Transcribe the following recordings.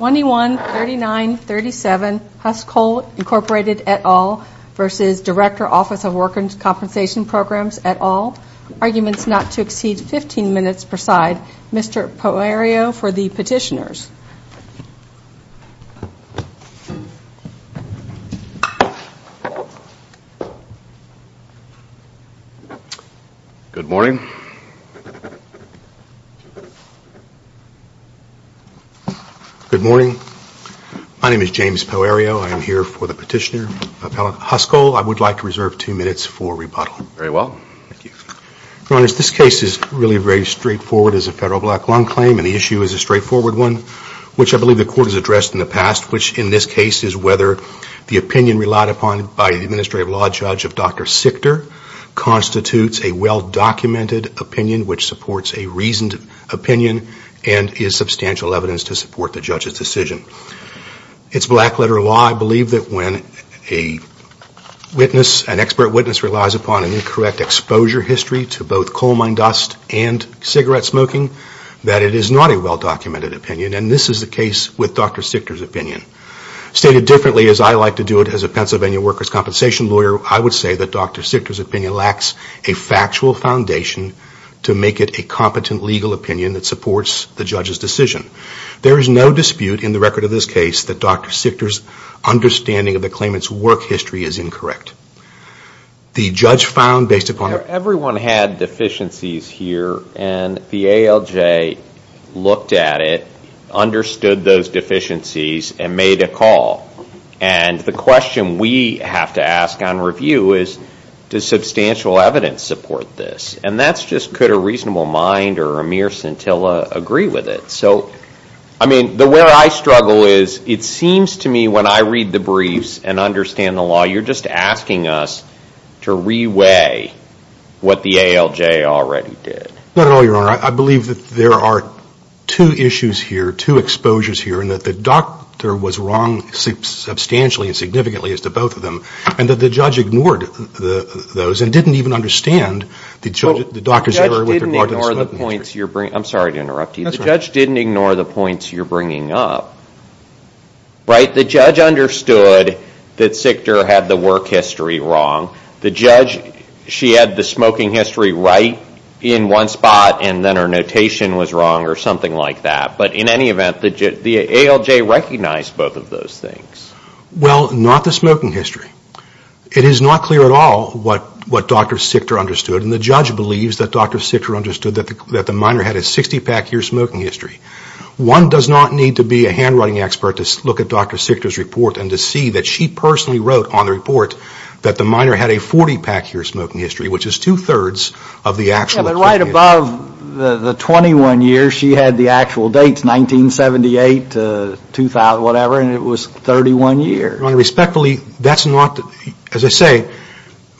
21-39-37 Huskoll, Incorporated, et al. v. Director, Office of Workers' Compensation Programs, et al. Arguments not to exceed 15 minutes per side. Mr. Poirot for the petitioners. Good morning. Good morning. My name is James Poirot. I am here for the petitioner, Appellant Huskoll. I would like to reserve two minutes for rebuttal. Very well. Thank you. Your Honors, this case is really very straightforward as a federal black lung claim, and the issue is a straightforward one, which I believe the Court has addressed in the past, which in this case is whether the opinion relied upon by the Administrative Law Judge of Dr. Sichter constitutes a well-documented opinion which supports a reasoned opinion and is substantial evidence to support the Judge's decision. It's black letter law. I believe that when an expert witness relies upon an incorrect exposure history to both coal mine dust and cigarette smoking, that it is not a well-documented opinion, and this is the case with Dr. Sichter's opinion. Stated differently, as I like to do it as a Pennsylvania workers' compensation lawyer, I would say that Dr. Sichter's opinion lacks a factual foundation to make it a competent legal opinion that supports the Judge's decision. There is no dispute in the record of this case that Dr. Sichter's understanding of the claimant's work history is incorrect. The Judge found, based upon... Everyone had deficiencies here, and the ALJ looked at it, understood those deficiencies, and made a call. And the question we have to ask on review is, does substantial evidence support this? And that's just, could a reasonable mind or a mere scintilla agree with it? So, I mean, where I struggle is, it seems to me when I read the briefs and understand the law, you're just asking us to re-weigh what the ALJ already did. Not at all, Your Honor. I believe that there are two issues here, two exposures here, and that the doctor was wrong substantially and significantly as to both of them, and that the Judge ignored those and didn't even understand the doctor's error with regard to the smoking history. I'm sorry to interrupt you. The Judge didn't ignore the points you're bringing up. Right? The Judge understood that Sichter had the work history wrong. The Judge, she had the smoking history right in one spot, and then her notation was wrong or something like that. But in any event, the ALJ recognized both of those things. Well, not the smoking history. It is not clear at all what Dr. Sichter understood, and the Judge believes that Dr. Sichter understood that the minor had a 60-pack year smoking history. One does not need to be a handwriting expert to look at Dr. Sichter's report and to see that she personally wrote on the report that the minor had a 40-pack year smoking history, which is two-thirds of the actual date. Yeah, but right above the 21 years, she had the actual dates, 1978 to whatever, and it was 31 years. Your Honor, respectfully, that's not, as I say,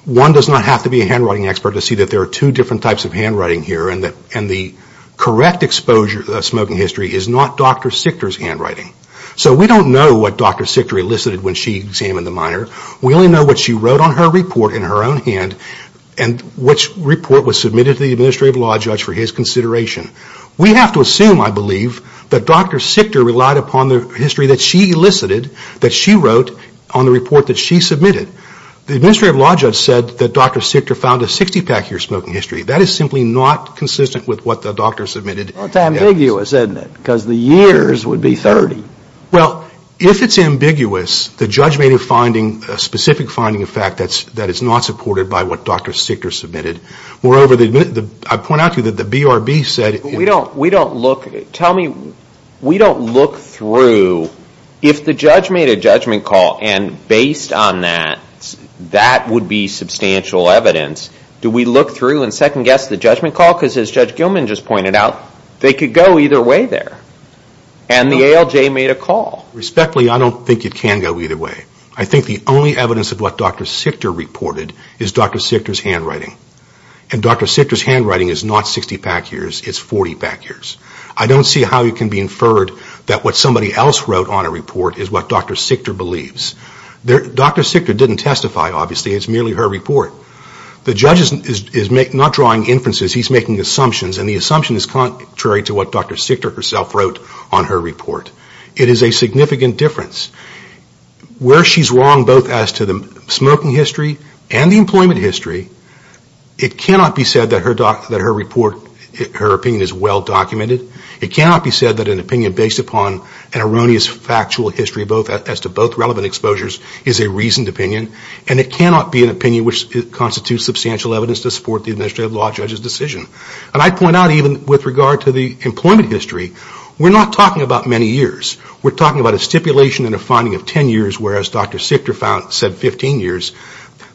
one does not have to be a handwriting expert to see that there are two different types of handwriting here, and the correct exposure of smoking history is not Dr. Sichter's handwriting. So we don't know what Dr. Sichter elicited when she examined the minor. We only know what she wrote on her report in her own hand and which report was submitted to the Administrative Law Judge for his consideration. We have to assume, I believe, that Dr. Sichter relied upon the history that she elicited, that she wrote on the report that she submitted. The Administrative Law Judge said that Dr. Sichter found a 60-pack year smoking history. That is simply not consistent with what the doctor submitted. Well, it's ambiguous, isn't it, because the years would be 30. Well, if it's ambiguous, the judge made a specific finding of fact that it's not supported by what Dr. Sichter submitted. Moreover, I point out to you that the BRB said – We don't look – tell me, we don't look through – if the judge made a judgment call, and based on that, that would be substantial evidence, do we look through and second-guess the judgment call? Because as Judge Gilman just pointed out, they could go either way there. And the ALJ made a call. Respectfully, I don't think it can go either way. I think the only evidence of what Dr. Sichter reported is Dr. Sichter's handwriting. And Dr. Sichter's handwriting is not 60-pack years, it's 40-pack years. I don't see how it can be inferred that what somebody else wrote on a report is what Dr. Sichter believes. Dr. Sichter didn't testify, obviously, it's merely her report. The judge is not drawing inferences, he's making assumptions, and the assumption is contrary to what Dr. Sichter herself wrote on her report. It is a significant difference. Where she's wrong, both as to the smoking history and the employment history, it cannot be said that her opinion is well-documented. It cannot be said that an opinion based upon an erroneous factual history, as to both relevant exposures, is a reasoned opinion. And it cannot be an opinion which constitutes substantial evidence to support the administrative law judge's decision. And I'd point out even with regard to the employment history, we're not talking about many years. We're talking about a stipulation and a finding of 10 years, whereas Dr. Sichter said 15 years.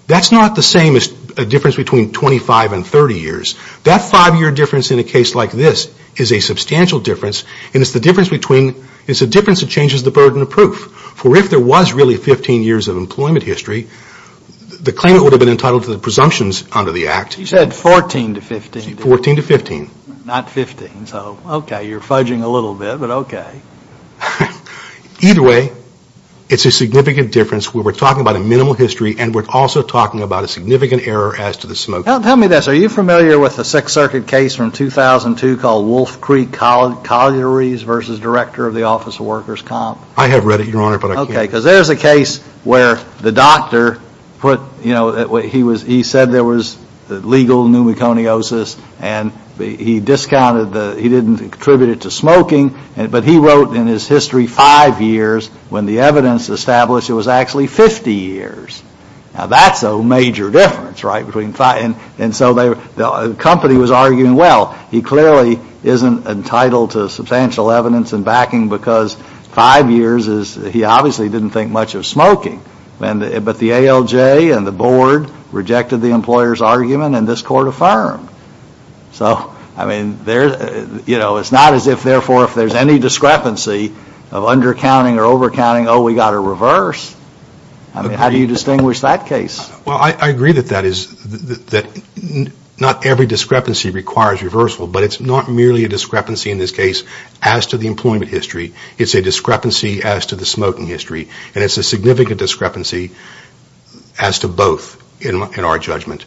That's not the same as a difference between 25 and 30 years. That five-year difference in a case like this is a substantial difference, and it's a difference that changes the burden of proof. For if there was really 15 years of employment history, the claimant would have been entitled to the presumptions under the Act. You said 14 to 15. 14 to 15. Not 15, so okay, you're fudging a little bit, but okay. Either way, it's a significant difference where we're talking about a minimal history and we're also talking about a significant error as to the smoking. Tell me this. Are you familiar with the Sixth Circuit case from 2002 called Wolf Creek Collieries versus Director of the Office of Workers' Comp? I have read it, Your Honor, but I can't. Okay, because there's a case where the doctor put, you know, he said there was legal pneumoconiosis, and he discounted the, he didn't contribute it to smoking, but he wrote in his history five years when the evidence established it was actually 50 years. Now, that's a major difference, right, between five. And so the company was arguing, well, he clearly isn't entitled to substantial evidence and backing because five years is, he obviously didn't think much of smoking. But the ALJ and the board rejected the employer's argument, and this Court affirmed. So, I mean, you know, it's not as if, therefore, if there's any discrepancy of undercounting or overcounting, oh, we've got to reverse. I mean, how do you distinguish that case? Well, I agree that that is, that not every discrepancy requires reversal, but it's not merely a discrepancy in this case as to the employment history. It's a discrepancy as to the smoking history, and it's a significant discrepancy as to both in our judgment.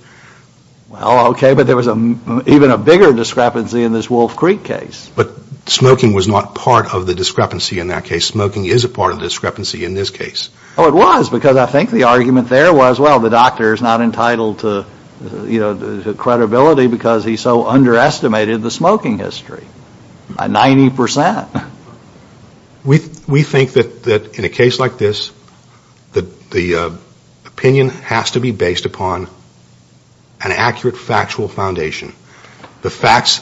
Well, okay, but there was even a bigger discrepancy in this Wolf Creek case. But smoking was not part of the discrepancy in that case. Smoking is a part of the discrepancy in this case. Oh, it was, because I think the argument there was, well, the doctor is not entitled to, you know, credibility because he so underestimated the smoking history by 90%. We think that in a case like this, the opinion has to be based upon an accurate factual foundation. The facts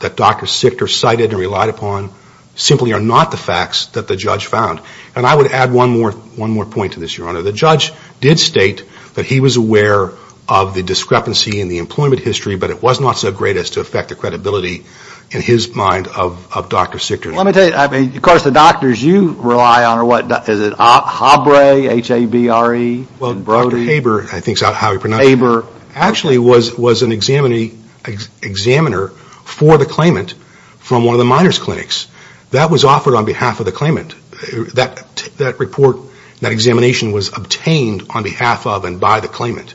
that Dr. Sichter cited and relied upon simply are not the facts that the judge found. And I would add one more point to this, Your Honor. The judge did state that he was aware of the discrepancy in the employment history, but it was not so great as to affect the credibility, in his mind, of Dr. Sichter. Well, let me tell you, I mean, of course, the doctors you rely on are what? Is it HABRE, H-A-B-R-E, and Brody? Well, Dr. Haber, I think is how you pronounce it. Haber. Actually was an examiner for the claimant from one of the minors clinics. That was offered on behalf of the claimant. That report, that examination was obtained on behalf of and by the claimant.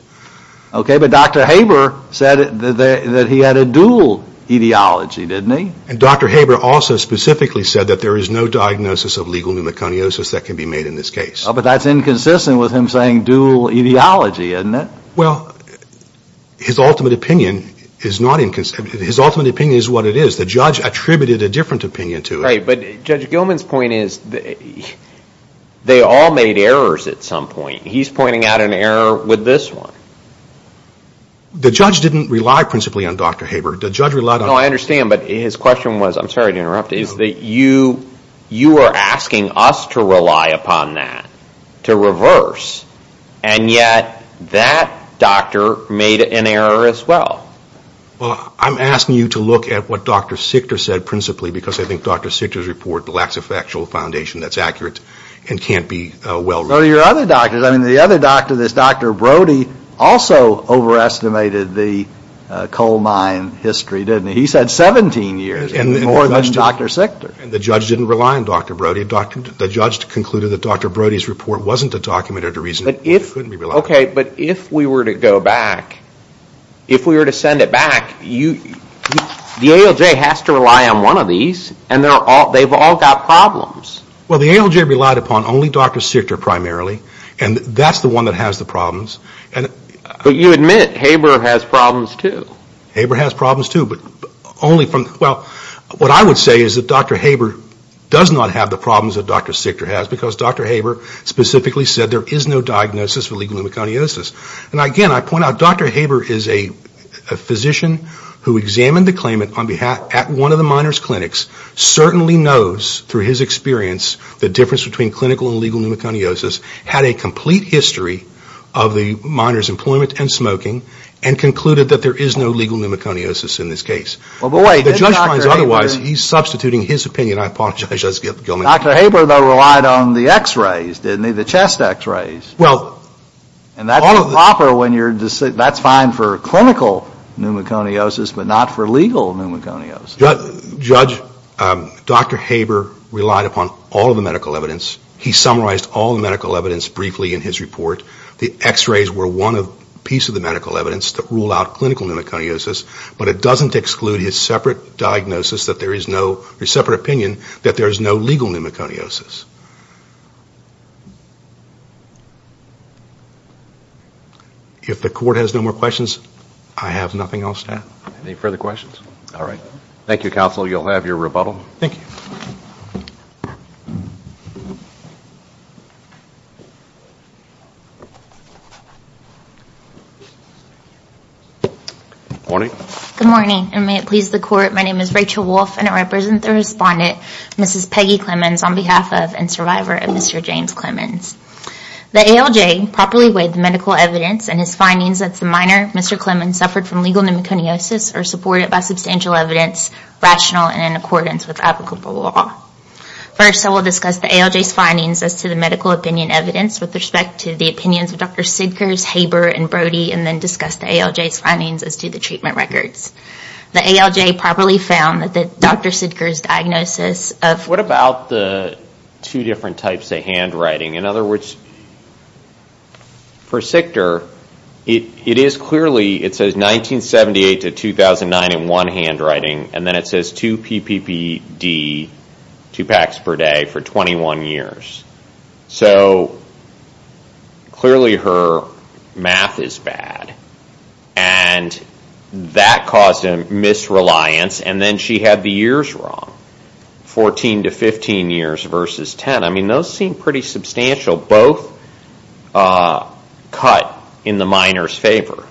Okay, but Dr. Haber said that he had a dual etiology, didn't he? And Dr. Haber also specifically said that there is no diagnosis of legal pneumoconiosis that can be made in this case. But that's inconsistent with him saying dual etiology, isn't it? Well, his ultimate opinion is not inconsistent. His ultimate opinion is what it is. The judge attributed a different opinion to it. Right, but Judge Gilman's point is they all made errors at some point. He's pointing out an error with this one. The judge didn't rely principally on Dr. Haber. The judge relied on... No, I understand, but his question was, I'm sorry to interrupt, is that you are asking us to rely upon that, to reverse, and yet that doctor made an error as well. Well, I'm asking you to look at what Dr. Sichter said principally because I think Dr. Sichter's report lacks a factual foundation that's accurate and can't be well... Well, your other doctors, I mean, the other doctor, this Dr. Brody, also overestimated the coal mine history, didn't he? He said 17 years, more than Dr. Sichter. And the judge didn't rely on Dr. Brody. The judge concluded that Dr. Brody's report wasn't a document or a reason it couldn't be relied upon. Okay, but if we were to go back, if we were to send it back, the ALJ has to rely on one of these, and they've all got problems. Well, the ALJ relied upon only Dr. Sichter primarily, and that's the one that has the problems. But you admit Haber has problems too. Haber has problems too, but only from... Well, what I would say is that Dr. Haber does not have the problems that Dr. Sichter has because Dr. Haber specifically said there is no diagnosis for legal pneumoconiosis. And again, I point out, Dr. Haber is a physician who examined the claimant at one of the miners' clinics, certainly knows through his experience the difference between clinical and legal pneumoconiosis, had a complete history of the miner's employment and smoking, and concluded that there is no legal pneumoconiosis in this case. Well, but wait, did Dr. Haber... If the judge finds otherwise, he's substituting his opinion. I apologize. Dr. Haber, though, relied on the x-rays, didn't he? The chest x-rays. Well... And that's proper when you're... that's fine for clinical pneumoconiosis, but not for legal pneumoconiosis. Judge, Dr. Haber relied upon all of the medical evidence. He summarized all the medical evidence briefly in his report. The x-rays were one piece of the medical evidence that ruled out clinical pneumoconiosis, but it doesn't exclude his separate diagnosis that there is no... his separate opinion that there is no legal pneumoconiosis. If the court has no more questions, I have nothing else to add. Any further questions? All right. Thank you, counsel. You'll have your rebuttal. Thank you. Good morning. Good morning, and may it please the court, my name is Rachel Wolfe, and I represent the respondent, Mrs. Peggy Clemmons, on behalf of and survivor of Mr. James Clemmons. The ALJ properly weighed the medical evidence, and his findings that the minor, Mr. Clemmons, suffered from legal pneumoconiosis are supported by substantial evidence rational and in accordance with applicable law. First, I will discuss the ALJ's findings as to the medical opinion evidence with respect to the opinions of Drs. Sidkers, Haber, and Brody, and then discuss the ALJ's findings as to the treatment records. The ALJ properly found that Dr. Sidker's diagnosis of... What about the two different types of handwriting? In other words, for Sidker, it is clearly, it says 1978 to 2009 in one handwriting, and then it says two PPPD, two packs per day, for 21 years. So clearly her math is bad, and that caused a misreliance, and then she had the years wrong, 14 to 15 years versus 10. I mean, those seem pretty substantial, both cut in the minor's favor.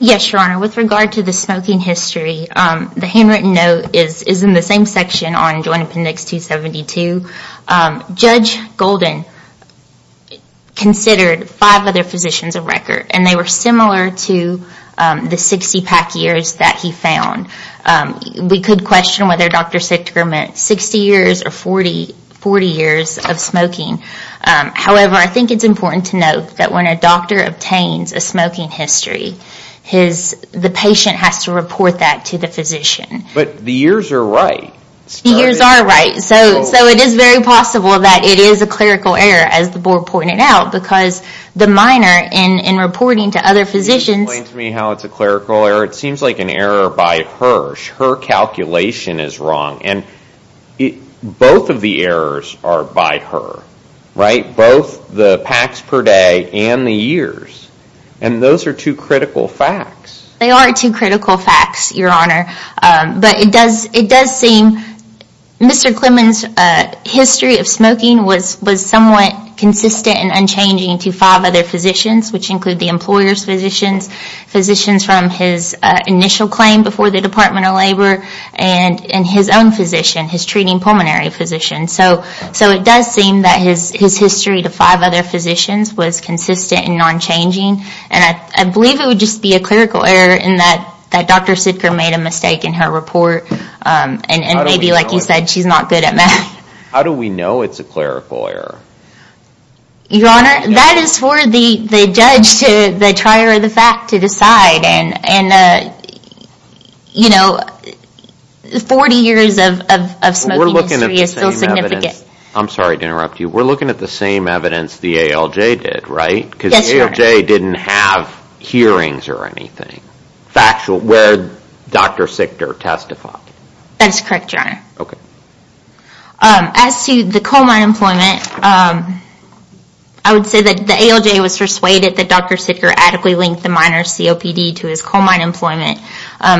Yes, Your Honor. With regard to the smoking history, the handwritten note is in the same section on Joint Appendix 272. Judge Golden considered five other physicians a record, and they were similar to the 60 pack years that he found. We could question whether Dr. Sidker meant 60 years or 40 years of smoking. However, I think it's important to note that when a doctor obtains a smoking history, the patient has to report that to the physician. But the years are right. The years are right. So it is very possible that it is a clerical error, as the board pointed out, because the minor, in reporting to other physicians... Her calculation is wrong, and both of the errors are by her. Both the packs per day and the years. And those are two critical facts. They are two critical facts, Your Honor. But it does seem Mr. Clemon's history of smoking was somewhat consistent and unchanging to five other physicians, which include the employer's physicians, physicians from his initial claim before the Department of Labor, and his own physician, his treating pulmonary physician. So it does seem that his history to five other physicians was consistent and unchanging. And I believe it would just be a clerical error in that Dr. Sidker made a mistake in her report. And maybe, like you said, she's not good at math. How do we know it's a clerical error? Your Honor, that is for the judge, the trier of the fact, to decide. And, you know, 40 years of smoking history is still significant. I'm sorry to interrupt you. We're looking at the same evidence the ALJ did, right? Yes, Your Honor. Because the ALJ didn't have hearings or anything factual where Dr. Sidker testified. That is correct, Your Honor. Okay. As to the coal mine employment, I would say that the ALJ was persuaded that Dr. Sidker adequately linked the minor COPD to his coal mine employment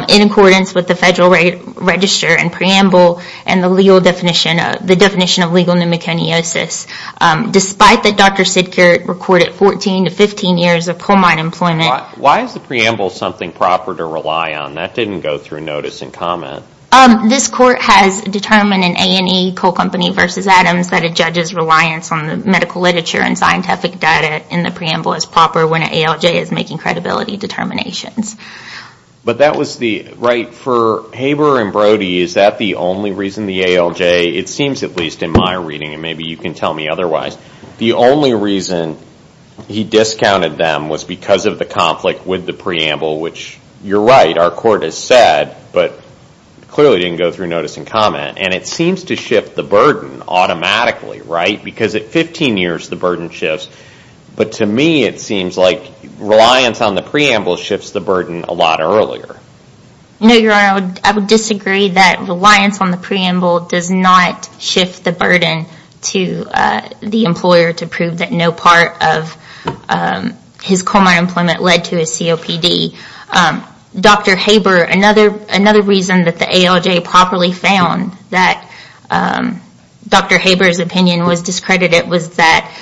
in accordance with the Federal Register and preamble and the legal definition of legal pneumoconiosis. Despite that Dr. Sidker recorded 14 to 15 years of coal mine employment. Why is the preamble something proper to rely on? That didn't go through notice and comment. This court has determined in A&E Coal Company v. Adams that a judge's reliance on the medical literature and scientific data in the preamble is proper when an ALJ is making credibility determinations. But that was the, right, for Haber and Brody, is that the only reason the ALJ, it seems at least in my reading, and maybe you can tell me otherwise, the only reason he discounted them was because of the conflict with the preamble, which you're right, our court has said, but clearly didn't go through notice and comment, and it seems to shift the burden automatically, right, because at 15 years the burden shifts. But to me it seems like reliance on the preamble shifts the burden a lot earlier. No, Your Honor, I would disagree that reliance on the preamble does not shift the burden to the employer to prove that no part of his coal mine employment led to his COPD. Dr. Haber, another reason that the ALJ properly found that Dr. Haber's opinion was discredited was that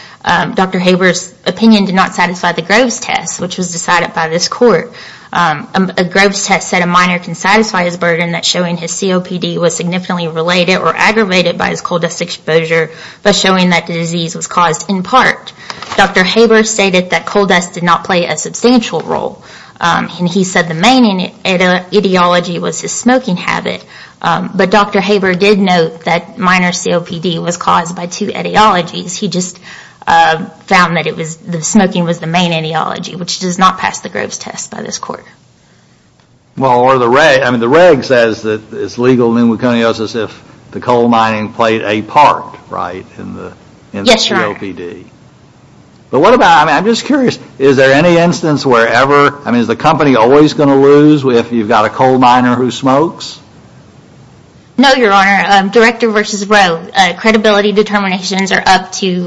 Dr. Haber's opinion did not satisfy the Groves test, which was decided by this court. A Groves test said a miner can satisfy his burden that showing his COPD was significantly related or aggravated by his coal dust exposure by showing that the disease was caused in part. Dr. Haber stated that coal dust did not play a substantial role, and he said the main ideology was his smoking habit, but Dr. Haber did note that miner's COPD was caused by two ideologies. He just found that smoking was the main ideology, which does not pass the Groves test by this court. Well, the reg says that it's legal pneumoconiosis if the coal mining played a part, right, in the COPD. Yes, Your Honor. But what about, I'm just curious, is there any instance wherever, I mean, is the company always going to lose if you've got a coal miner who smokes? No, Your Honor. Director versus Grove. Credibility determinations are up to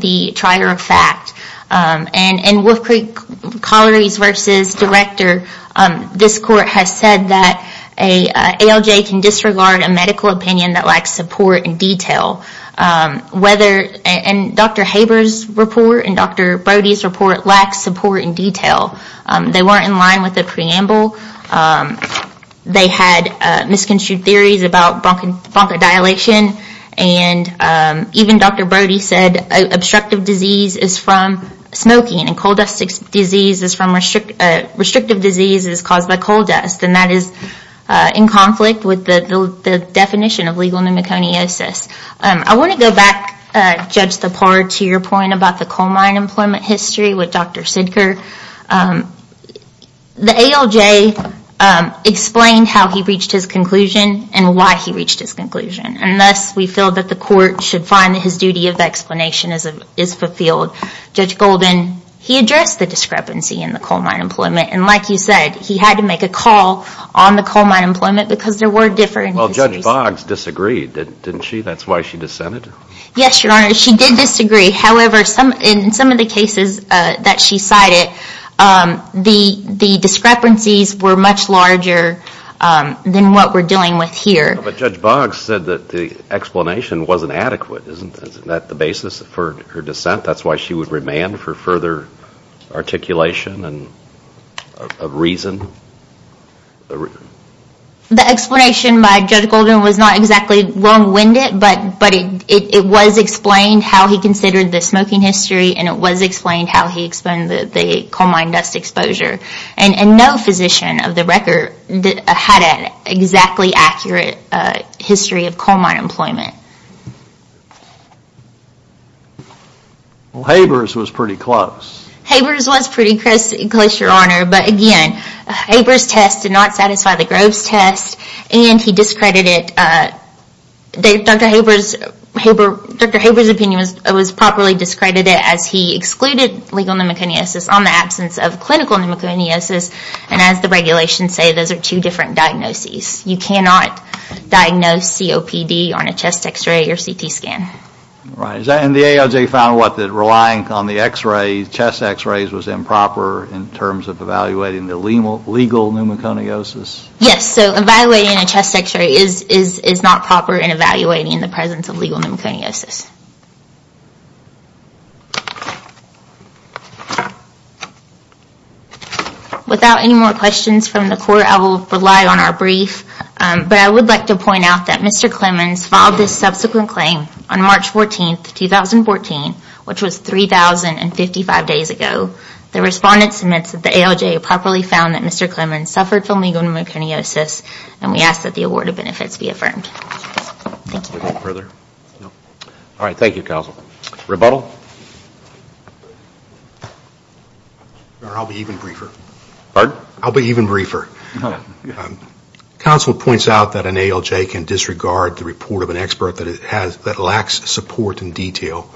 the trier of fact. In Wolf Creek Colliery's versus Director, this court has said that an ALJ can disregard a medical opinion that lacks support and detail. Dr. Haber's report and Dr. Brody's report lack support and detail. They weren't in line with the preamble. They had misconstrued theories about bronchodilation, and even Dr. Brody said obstructive disease is from smoking and coal dust disease is from, restrictive disease is caused by coal dust, and that is in conflict with the definition of legal pneumoconiosis. I want to go back, Judge Thapar, to your point about the coal mine employment history with Dr. Sidker. The ALJ explained how he reached his conclusion and why he reached his conclusion, and thus we feel that the court should find that his duty of explanation is fulfilled. Judge Golden, he addressed the discrepancy in the coal mine employment, and like you said, he had to make a call on the coal mine employment because there were different histories. Well, Judge Boggs disagreed, didn't she? That's why she dissented? Yes, Your Honor, she did disagree. However, in some of the cases that she cited, the discrepancies were much larger than what we're dealing with here. But Judge Boggs said that the explanation wasn't adequate. Isn't that the basis for her dissent? That's why she would remand for further articulation and reason? The explanation by Judge Golden was not exactly wrong-winded, but it was explained how he considered the smoking history, and it was explained how he explained the coal mine dust exposure. And no physician of the record had an exactly accurate history of coal mine employment. Habers was pretty close. Habers was pretty close, Your Honor, but again, Habers' test did not satisfy the Groves' test, and he discredited it. Dr. Habers' opinion was properly discredited as he excluded legal pneumoconiosis on the absence of clinical pneumoconiosis. And as the regulations say, those are two different diagnoses. You cannot diagnose COPD on a chest x-ray or CT scan. And the ALJ found what? That relying on the chest x-rays was improper in terms of evaluating the legal pneumoconiosis? Yes, so evaluating a chest x-ray is not proper in evaluating the presence of legal pneumoconiosis. Without any more questions from the Court, I will rely on our brief. But I would like to point out that Mr. Clemons filed this subsequent claim on March 14, 2014, which was 3,055 days ago. The respondent submits that the ALJ properly found that Mr. Clemons suffered from legal pneumoconiosis, and we ask that the award of benefits be affirmed. Thank you. Further? No. All right, thank you, counsel. Rebuttal? I'll be even briefer. Pardon? I'll be even briefer. Counsel points out that an ALJ can disregard the report of an expert that lacks support and detail.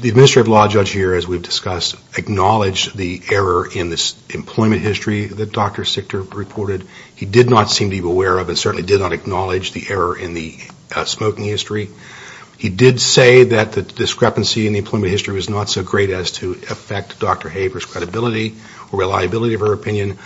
The administrative law judge here, as we've discussed, acknowledged the error in this employment history that Dr. Sichter reported. He did not seem to be aware of and certainly did not acknowledge the error in the smoking history. He did say that the discrepancy in the employment history was not so great as to affect Dr. Haver's credibility or reliability of her opinion.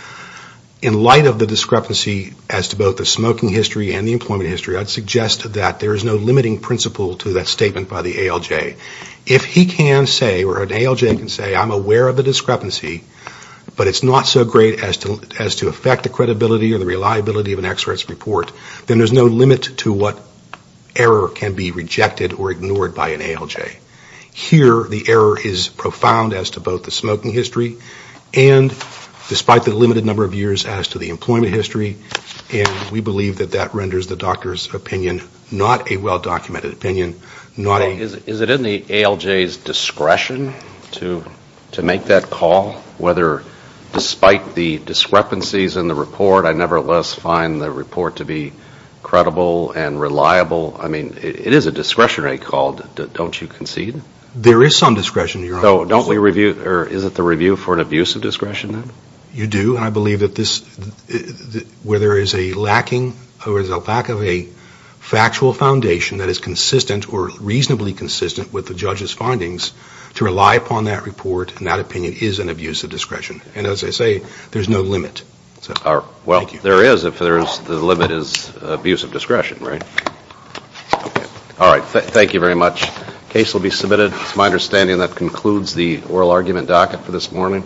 In light of the discrepancy as to both the smoking history and the employment history, I'd suggest that there is no limiting principle to that statement by the ALJ. If he can say, or an ALJ can say, I'm aware of the discrepancy, but it's not so great as to affect the credibility or the reliability of an expert's report, then there's no limit to what error can be rejected or ignored by an ALJ. Here, the error is profound as to both the smoking history and despite the limited number of years as to the employment history, and we believe that that renders the doctor's opinion not a well-documented opinion. Is it in the ALJ's discretion to make that call? Despite the discrepancies in the report, I nevertheless find the report to be credible and reliable. It is a discretionary call. Don't you concede? There is some discretion. Is it the review for an abuse of discretion? You do, and I believe that where there is a lack of a factual foundation to rely upon that report and that opinion is an abuse of discretion. And as I say, there's no limit. Well, there is if the limit is abuse of discretion, right? All right. Thank you very much. Case will be submitted. It's my understanding that concludes the oral argument docket for this morning.